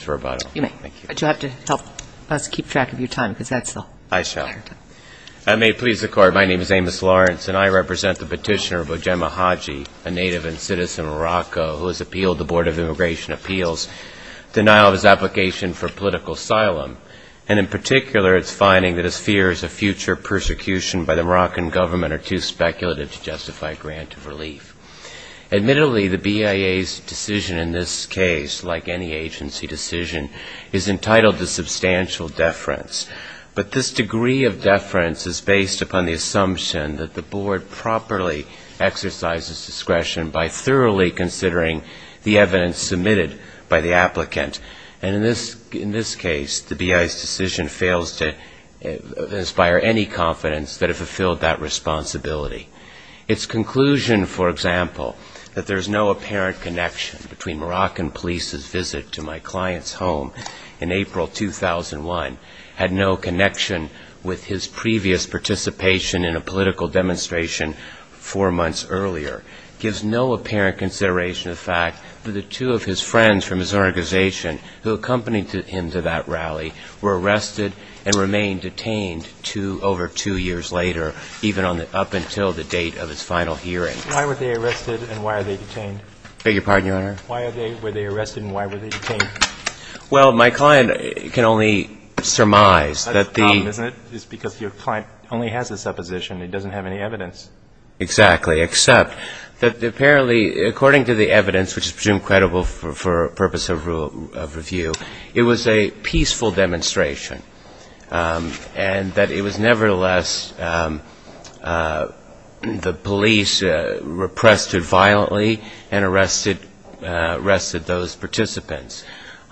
I represent the petitioner Bojema Haji, a native and citizen of Morocco, who has appealed the Board of Immigration Appeals denial of his application for political asylum, and in particular its finding that his fear is a future persecution by the Moroccan government are too speculative to justify a grant of relief. Admittedly, the BIA's decision in this case, like any agency decision, is entitled to substantial deference, but this degree of deference is based upon the assumption that the Board properly exercises discretion by thoroughly considering the evidence submitted by the applicant, and in this case the BIA's decision fails to inspire any confidence that it fulfilled that responsibility. Its conclusion, for example, that there's no apparent connection between Moroccan police's visit to my client's home in April 2001, had no connection with his previous participation in a political demonstration four months earlier, gives no apparent consideration of the fact that the two of his friends from his organization who accompanied him to that rally were arrested and remained detained over two years later, even up until the date of his final hearing. Why were they arrested and why were they detained? I beg your pardon, Your Honor? Why were they arrested and why were they detained? Well, my client can only surmise that the That's the problem, isn't it? It's because your client only has a supposition. It doesn't have any evidence. Exactly, except that apparently, according to the evidence, which is presumed credible for purpose of review, it was a peaceful demonstration, and that it was nevertheless the police repressed it violently and arrested those participants.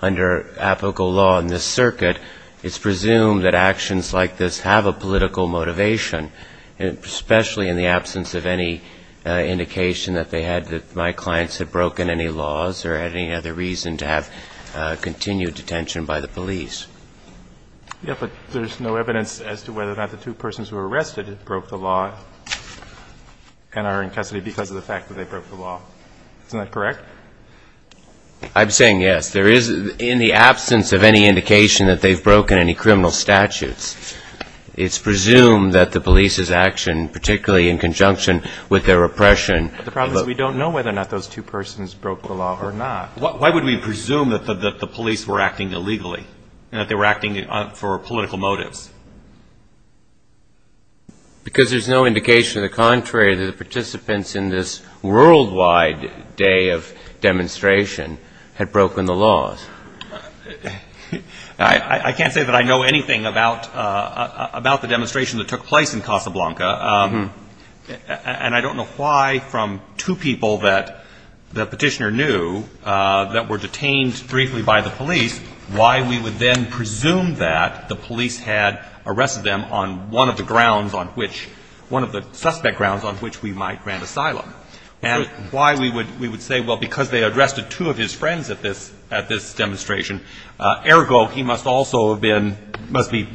Under apical law in this circuit, it's presumed that actions like this have a political motivation, especially in the absence of any indication that they had that my clients had broken any criminal laws or had any other reason to have continued detention by the police. Yeah, but there's no evidence as to whether or not the two persons who were arrested broke the law and are in custody because of the fact that they broke the law. Isn't that correct? I'm saying yes. There is, in the absence of any indication that they've broken any criminal statutes, it's presumed that the police's action, particularly in conjunction with their repression The problem is we don't know whether or not those two persons broke the law or not. Why would we presume that the police were acting illegally and that they were acting for political motives? Because there's no indication to the contrary that the participants in this worldwide day of demonstration had broken the laws. I can't say that I know anything about the demonstration that took place in Casablanca, and I don't know why from two people that the petitioner knew that were detained briefly by the police, why we would then presume that the police had arrested them on one of the grounds on which, one of the suspect grounds on which we might grant asylum. And why we would say, well, because they arrested two of his friends at this demonstration, ergo he must also have been, must be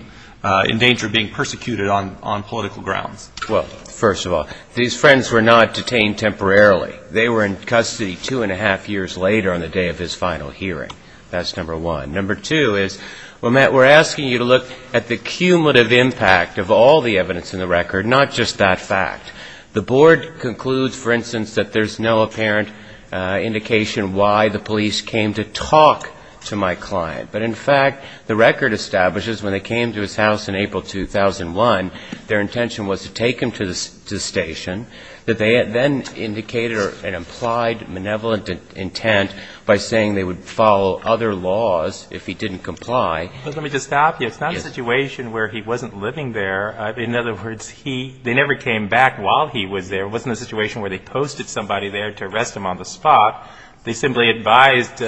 in danger of being persecuted on political grounds. Well, first of all, these friends were not detained temporarily. They were in custody two and a half years later on the day of his final hearing. That's number one. Number two is, well, Matt, we're asking you to look at the cumulative impact of all the evidence in the record, not just that fact. The board concludes, for instance, that there's no apparent indication why the police came to talk to my client. But in fact, the record establishes when they came to his house in April 2001, their intention was to take him to the station, that they then indicated an implied benevolent intent by saying they would follow other laws if he didn't comply. Let me just stop you. It's not a situation where he wasn't living there. In other words, he, they never came back while he was there. It wasn't a situation where they posted somebody there to arrest him on the spot. They simply advised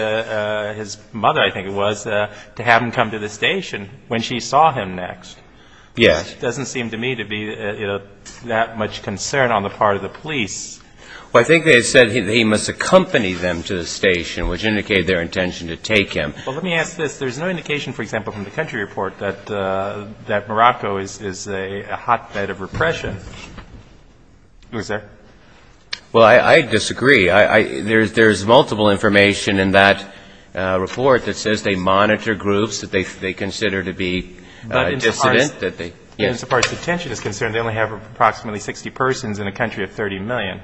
his mother, I think it was, to have him come to the station when she saw him next. Yes. It doesn't seem to me to be that much concern on the part of the police. Well, I think they said he must accompany them to the station, which indicated their intention to take him. Well, let me ask this. There's no indication, for example, from the country report that Morocco is a hotbed of repression. Is there? Well, I disagree. There's multiple information in that report that says they monitor groups that they consider to be dissident. As far as detention is concerned, they only have approximately 60 persons in a country of 30 million.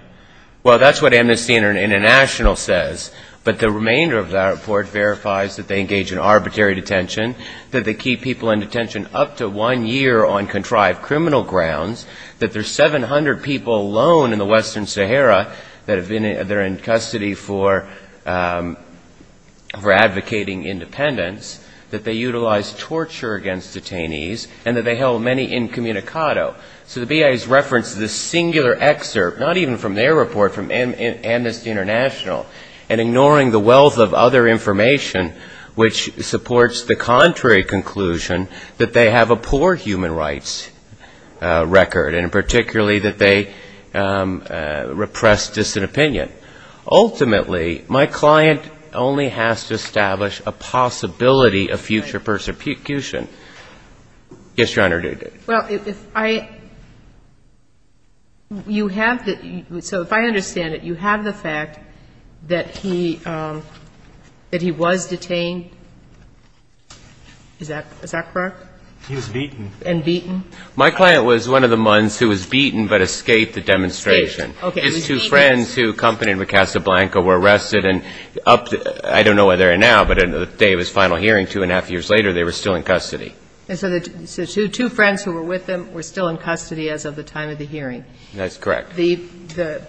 Well, that's what Amnesty International says. But the remainder of that report verifies that they engage in arbitrary detention, that they keep people in detention up to one year on contrived criminal grounds, that there's 700 people alone in the Western Sahara that have been they're in custody for advocating independence, that they utilize torture against detainees, and that they held many incommunicado. So the BIA's reference to this singular excerpt, not even from their report, from Amnesty International, and ignoring the wealth of other information, which supports the contrary conclusion that they have a poor human rights record, and particularly that they repress dissident opinion. Ultimately, my client only has to establish a possibility of future persecution. Yes, Your Honor. Well, if I – you have the – so if I understand it, you have the fact that he was detained – is that correct? He was beaten. And beaten? My client was one of the mons who was beaten but escaped the demonstration. Escaped, okay. His two friends who accompanied with Casablanca were arrested and up – I don't know where they are now, but at the day of his final hearing, two and a half years later, they were still in custody. And so the – so two friends who were with him were still in custody as of the time of the hearing? That's correct. The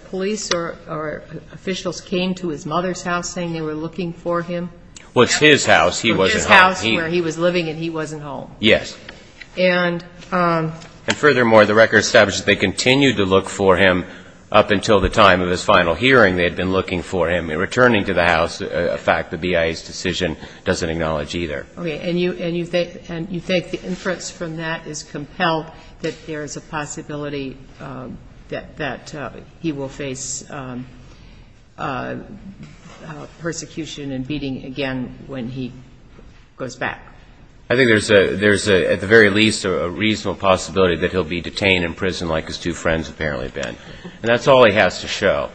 police or officials came to his mother's house saying they were looking for him? Well, it's his house. He wasn't home. Yes. And? And furthermore, the record establishes they continued to look for him up until the time of his final hearing. They had been looking for him. In returning to the house, a fact, the BIA's decision doesn't acknowledge either. Okay. And you – and you think – and you think the inference from that is compelled that there is a possibility that he will face persecution and beating again when he goes back? I think there's a – there's at the very least a reasonable possibility that he'll be detained in prison like his two friends apparently have been. And that's all he has to show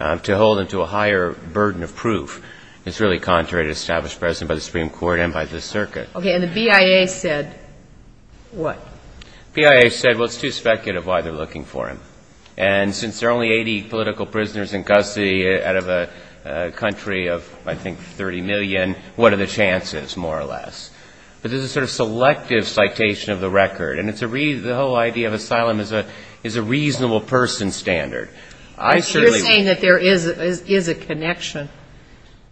to hold him to a higher burden of proof. It's really contrary to the established precedent by the Supreme Court and by the circuit. Okay. And the BIA said what? The BIA said, well, it's too speculative why they're looking for him. And since there are only 80 political prisoners in custody out of a country of, I think, 30 million, what are the chances more or less? But there's a sort of selective citation of the record. And it's a – the whole idea of asylum is a reasonable person standard. I certainly – You're saying that there is a connection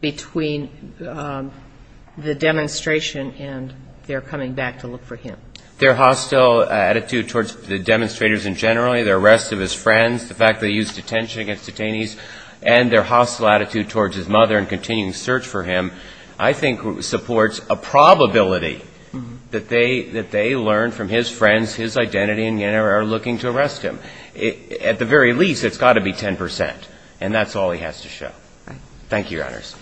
between the demonstration and their coming back to look for him. Their hostile attitude towards the demonstrators in general, their arrest of his friends, the fact that he used detention against detainees, and their hostile attitude towards his mother in continuing the search for him, I think supports a probability that they learned from his friends his identity and are looking to arrest him. At the very least, it's got to be 10 percent. And that's all he has to show. Thank you, Your Honors.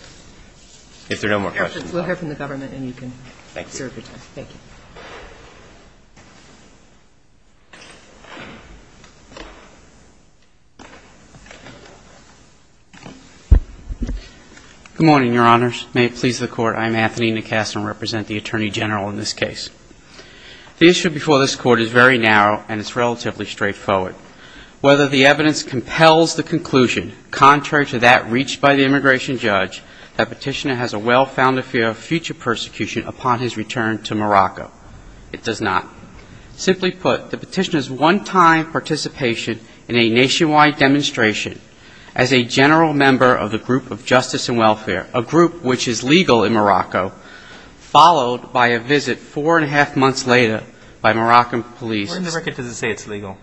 If there are no more questions, we'll hear from the government and you can serve your time. Thank you. Good morning, Your Honors. May it please the Court. I'm Anthony Nicasa and represent the Attorney General in this case. The issue before this Court is very narrow and it's relatively straightforward. Whether the evidence compels the conclusion, contrary to that reached by the immigration judge, that Petitioner has a well-founded fear of future persecution upon his return to Morocco, it does not. Simply put, the Petitioner's one-time participation in a nationwide demonstration as a general member of the group of justice and welfare, a group which is legal in Morocco, followed by a visit four-and-a-half months later by Moroccan police. Where in the record does it say it's legal?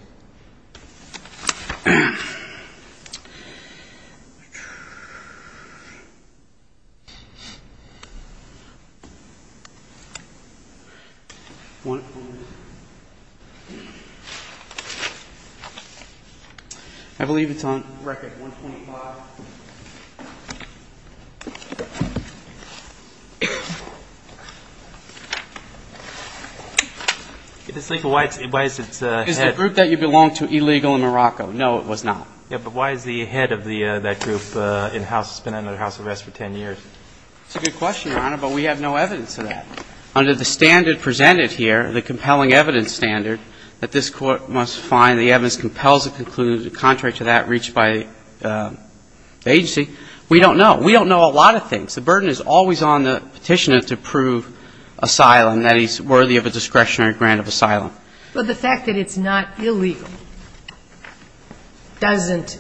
I believe it's on record 125. It is legal. Why is its head? It's the group that you belong to, illegal in Morocco. No, it was not. Yeah, but why is the head of that group in-house? It's been under house arrest for 10 years. It's a good question, Your Honor, but we have no evidence of that. Under the standard presented here, the compelling evidence standard, that this Court must find the evidence compels the conclusion, contrary to that reached by the agency, we don't know. We don't know a lot of things. The burden is always on the Petitioner to prove asylum, that he's worthy of a discretionary grant of asylum. But the fact that it's not illegal doesn't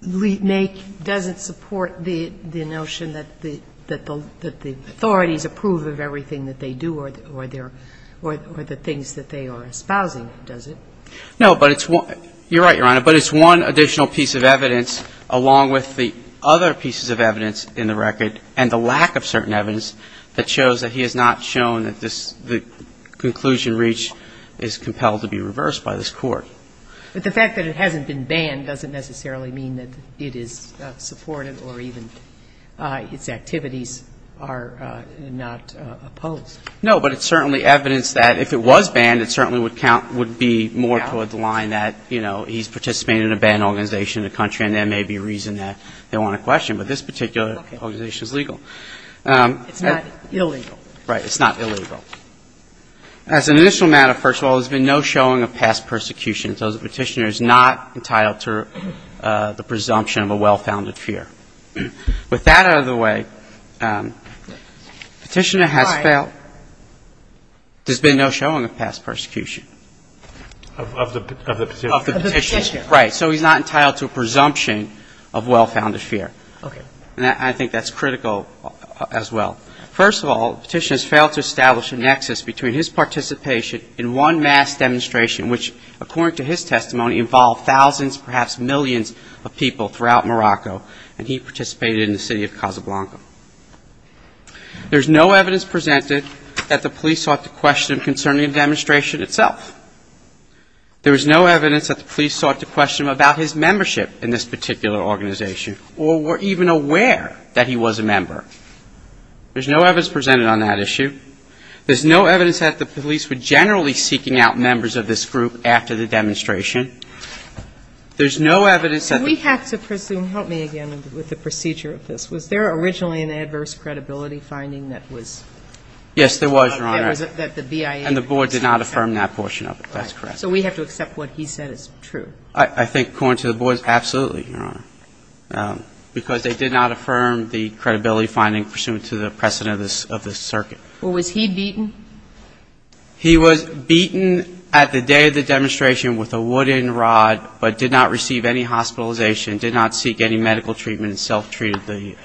make, doesn't support the notion that the authorities approve of everything that they do or the things that they are espousing, does it? No, but it's one. You're right, Your Honor. But it's one additional piece of evidence along with the other pieces of evidence in the record and the lack of certain evidence that shows that he has not shown that this, the conclusion reached is compelled to be reversed by this Court. But the fact that it hasn't been banned doesn't necessarily mean that it is supportive or even its activities are not opposed. No, but it's certainly evidence that if it was banned, it certainly would count, would be more toward the line that, you know, he's participating in a banned organization in the country and there may be a reason that they want to question. But this particular organization is legal. It's not illegal. Right. It's not illegal. As an initial matter, first of all, there's been no showing of past persecution so the Petitioner is not entitled to the presumption of a well-founded fear. With that out of the way, Petitioner has failed. There's been no showing of past persecution. Of the Petitioner. Of the Petitioner. Right. So he's not entitled to a presumption of well-founded fear. Okay. And I think that's critical as well. First of all, the Petitioner has failed to establish a nexus between his participation in one mass demonstration which, according to his testimony, involved thousands, perhaps millions of people throughout Morocco and he participated in the city of Casablanca. There's no evidence presented that the police sought to question him concerning the demonstration itself. There was no evidence that the police sought to question him about his membership in this particular organization or were even aware that he was a member. There's no evidence presented on that issue. There's no evidence that the police were generally seeking out members of this group after the demonstration. There's no evidence that the ---- We have to presume, help me again with the procedure of this, was there originally an adverse credibility finding that was ---- Yes, there was, Your Honor. That the BIA ---- And the board did not affirm that portion of it. That's correct. Right. So we have to accept what he said is true. I think, according to the board, absolutely, Your Honor, because they did not affirm the credibility finding pursuant to the precedent of this circuit. Well, was he beaten? He was beaten at the day of the demonstration with a wooden rod, but did not receive any hospitalization, did not seek any medical treatment, and self-treated the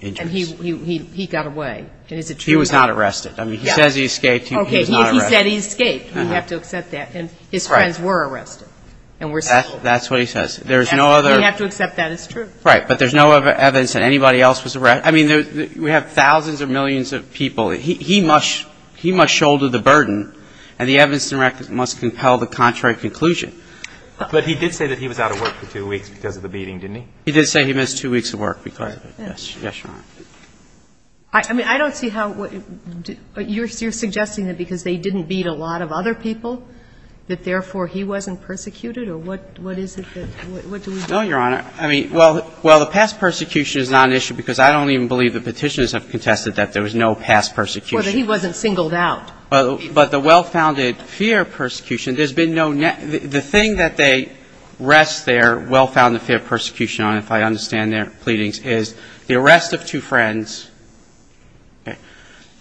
injuries. And he got away. And is it true? He was not arrested. I mean, he says he escaped. He was not arrested. Okay. He said he escaped. We have to accept that. And his friends were arrested and were ---- That's what he says. There's no other ---- We have to accept that as true. Right. But there's no evidence that anybody else was arrested. I mean, we have thousands of millions of people. He must shoulder the burden, and the evidence must compel the contrary conclusion. But he did say that he was out of work for two weeks because of the beating, didn't he? He did say he missed two weeks of work because of it. Yes, Your Honor. I mean, I don't see how ---- You're suggesting that because they didn't beat a lot of other people that, therefore, he wasn't persecuted? Or what is it that ---- What do we do? No, Your Honor. I mean, well, the past persecution is not an issue because I don't even believe the petitioners have contested that there was no past persecution. Or that he wasn't singled out. But the well-founded fear of persecution, there's been no nexus. The thing that they rest their well-founded fear of persecution on, if I understand their pleadings, is the arrest of two friends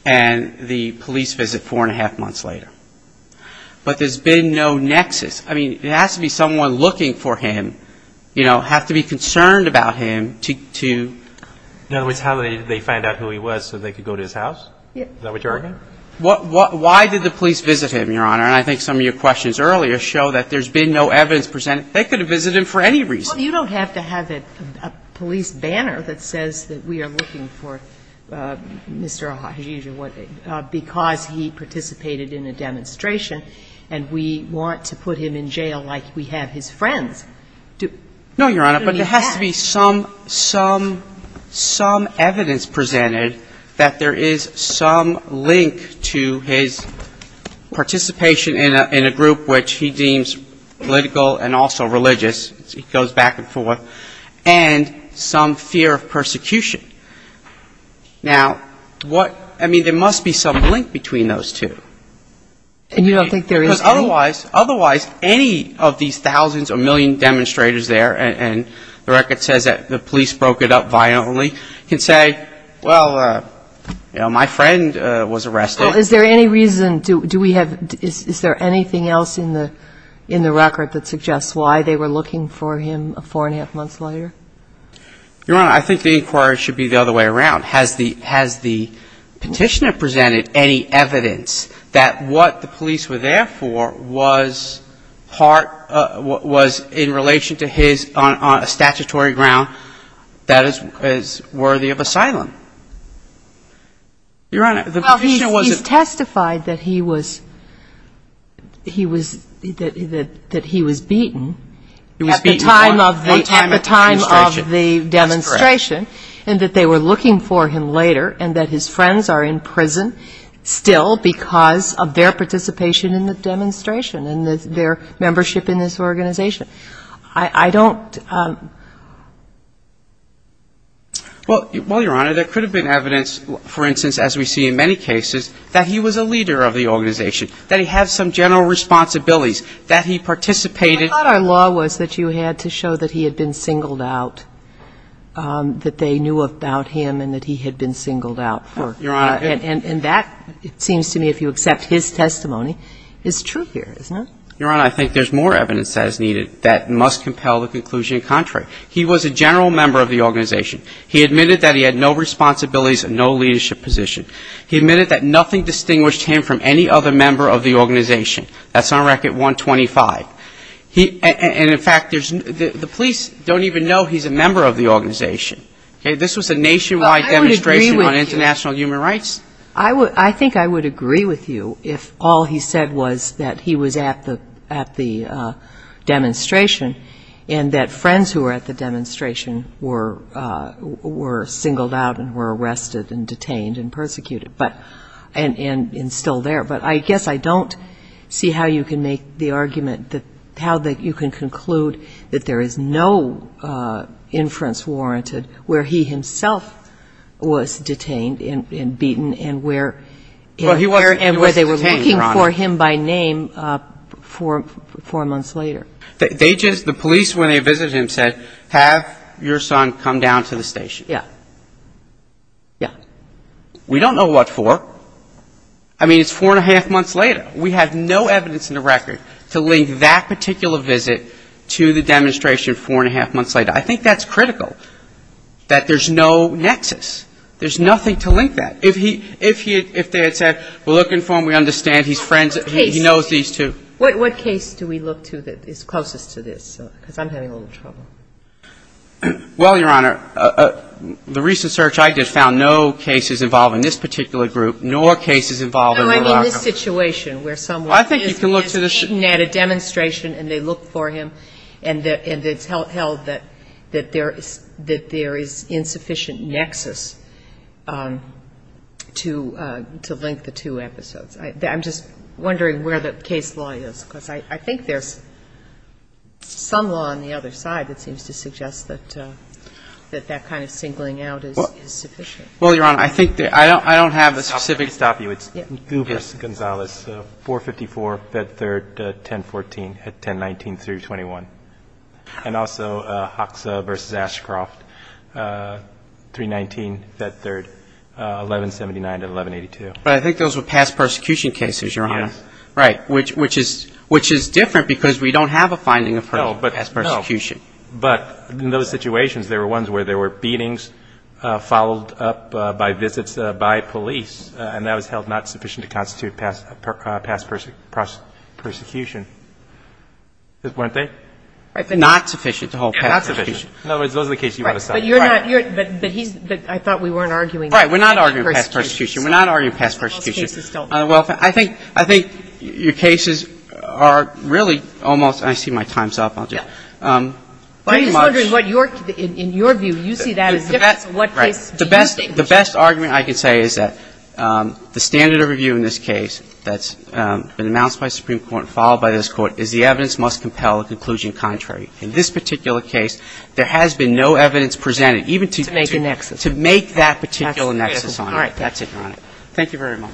and the police visit four and a half months later. But there's been no nexus. I mean, it has to be someone looking for him, you know, have to be concerned about him to ---- In other words, how did they find out who he was so they could go to his house? Yes. Is that what you're arguing? Why did the police visit him, Your Honor? And I think some of your questions earlier show that there's been no evidence presenting they could have visited him for any reason. Well, you don't have to have a police banner that says that we are looking for Mr. O'Hajiju because he participated in a demonstration and we want to put him in jail like we have his friends. No, Your Honor. But there has to be some evidence presented that there is some link to his participation in a group which he deems political and also religious. He goes back and forth. And some fear of persecution. Now, what ---- I mean, there must be some link between those two. And you don't think there is any? Otherwise, any of these thousands or million demonstrators there, and the record says that the police broke it up violently, can say, well, you know, my friend was arrested. Well, is there any reason do we have ---- is there anything else in the record that suggests why they were looking for him four and a half months later? Your Honor, I think the inquiry should be the other way around. Has the petitioner presented any evidence that what the police were there for was part ---- was in relation to his ---- on a statutory ground that is worthy of asylum? Your Honor, the petitioner wasn't ---- Well, he's testified that he was beaten at the time of the demonstration. That's correct. And that they were looking for him later and that his friends are in prison still because of their participation in the demonstration and their membership in this organization. I don't ---- Well, Your Honor, there could have been evidence, for instance, as we see in many cases, that he was a leader of the organization, that he had some general responsibilities, that he participated ---- I thought our law was that you had to show that he had been singled out, that they knew about him and that he had been singled out for ---- Your Honor ---- And that, it seems to me, if you accept his testimony, is true here, isn't it? Your Honor, I think there's more evidence as needed that must compel the conclusion contrary. He was a general member of the organization. He admitted that he had no responsibilities and no leadership position. He admitted that nothing distinguished him from any other member of the organization. That's on Record 125. And, in fact, the police don't even know he's a member of the organization. Okay? This was a nationwide demonstration on international human rights. I think I would agree with you if all he said was that he was at the demonstration and that friends who were at the demonstration were singled out and were arrested and detained and persecuted and still there. But I guess I don't see how you can make the argument that how you can conclude that there is no inference warranted where he himself was detained and beaten and where ---- Well, he wasn't detained, Your Honor. And where they were looking for him by name four months later. They just ---- the police, when they visited him, said, have your son come down to the station. Yeah. Yeah. We don't know what for. I mean, it's four and a half months later. We have no evidence in the record to link that particular visit to the demonstration four and a half months later. I think that's critical, that there's no nexus. There's nothing to link that. If he ---- if they had said, we're looking for him, we understand, he's friends, he knows these two. What case do we look to that is closest to this? Because I'm having a little trouble. Well, Your Honor, the recent search I did found no cases involving this particular group, nor cases involving Verraco. No, I mean the situation where someone is beaten at a demonstration and they look for him and it's held that there is insufficient nexus to link the two episodes. I'm just wondering where the case law is, because I think there's some law on the other side that seems to suggest that that kind of singling out is sufficient. Well, Your Honor, I think that I don't have a specific ---- I'll stop you. It's Guver Gonzalez, 454, Fed Third, 1014, 1019-21. And also Hoxha v. Ashcroft, 319, Fed Third, 1179-1182. But I think those were past persecution cases, Your Honor. Yes. Right, which is different because we don't have a finding of her past persecution. But in those situations, there were ones where there were beatings followed up by visits by police, and that was held not sufficient to constitute past persecution. Weren't they? Not sufficient. Not sufficient. In other words, those are the cases you want to cite. Right. But you're not ---- But he's ---- I thought we weren't arguing past persecution. Right. We're not arguing past persecution. We're not arguing past persecution. Well, I think your cases are really almost ---- I see my time's up. I'll just ---- I'm just wondering what your ---- in your view, you see that as different to what case do you think ---- Right. The best argument I can say is that the standard of review in this case that's been announced by the Supreme Court and followed by this Court is the evidence must compel a conclusion contrary. In this particular case, there has been no evidence presented even to ---- To make a nexus. To make that particular nexus on it. All right. That's it, Your Honor. Thank you very much.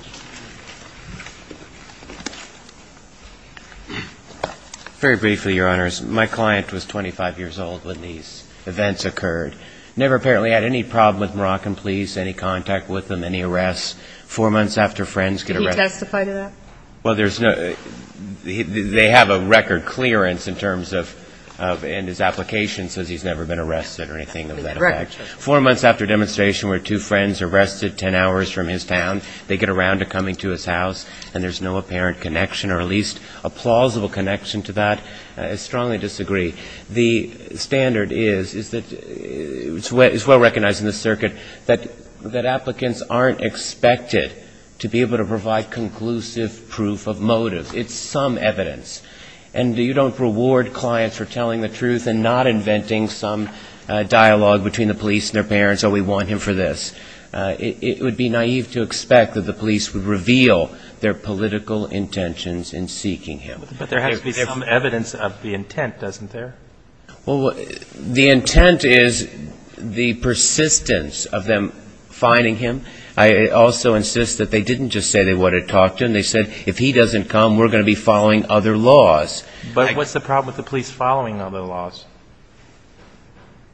Very briefly, Your Honors. My client was 25 years old when these events occurred. Never apparently had any problem with Moroccan police, any contact with them, any arrests. Four months after friends get arrested ---- Can you testify to that? Well, there's no ---- They have a record clearance in terms of ---- And his application says he's never been arrested or anything of that effect. Right. Four months after demonstration where two friends are arrested 10 hours from his town, they get around to coming to his house, and there's no apparent connection or at least a plausible connection to that. I strongly disagree. The standard is that it's well recognized in the circuit that applicants aren't expected to be able to provide conclusive proof of motive. It's some evidence. And you don't reward clients for telling the truth and not inventing some dialogue between the police and their parents, oh, we want him for this. It would be naive to expect that the police would reveal their political intentions in seeking him. But there has to be some evidence of the intent, doesn't there? Well, the intent is the persistence of them finding him. I also insist that they didn't just say they wanted to talk to him. They said if he doesn't come, we're going to be following other laws. But what's the problem with the police following other laws?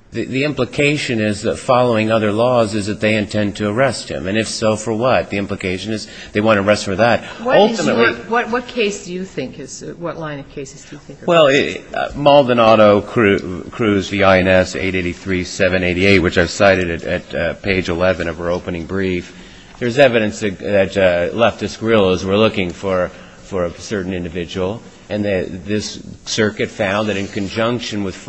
The implication is that following other laws is that they intend to arrest him. And if so, for what? The implication is they want to arrest for that. What case do you think is the line of cases? Well, Maldonado, Cruz, V.I.N.S. 883-788, which I cited at page 11 of her opening brief, there's evidence that leftist guerrillas were looking for a certain individual, and this circuit found that in conjunction with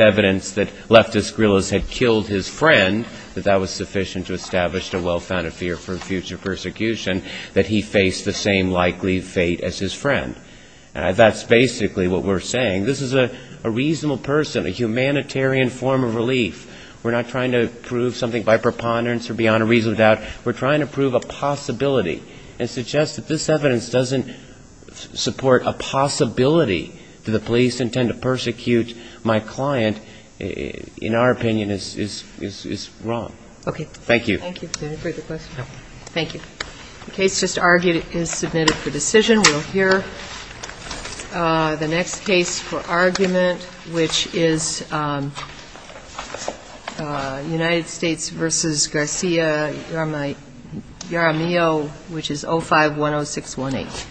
evidence that leftist guerrillas had killed his friend, that that was sufficient to establish a well-founded fear for future persecution, that he faced the same likely fate as his friend. That's basically what we're saying. This is a reasonable person, a humanitarian form of relief. We're not trying to prove something by preponderance or beyond a reasonable doubt. We're trying to prove a possibility and suggest that this evidence doesn't support a possibility that the police intend to persecute my client, in our opinion, is wrong. Okay. Thank you. Thank you. Any further questions? No. Thank you. The case just argued is submitted for decision. We'll hear the next case for argument, which is United States v. Garcia-Yaramillo, which is 05-10618.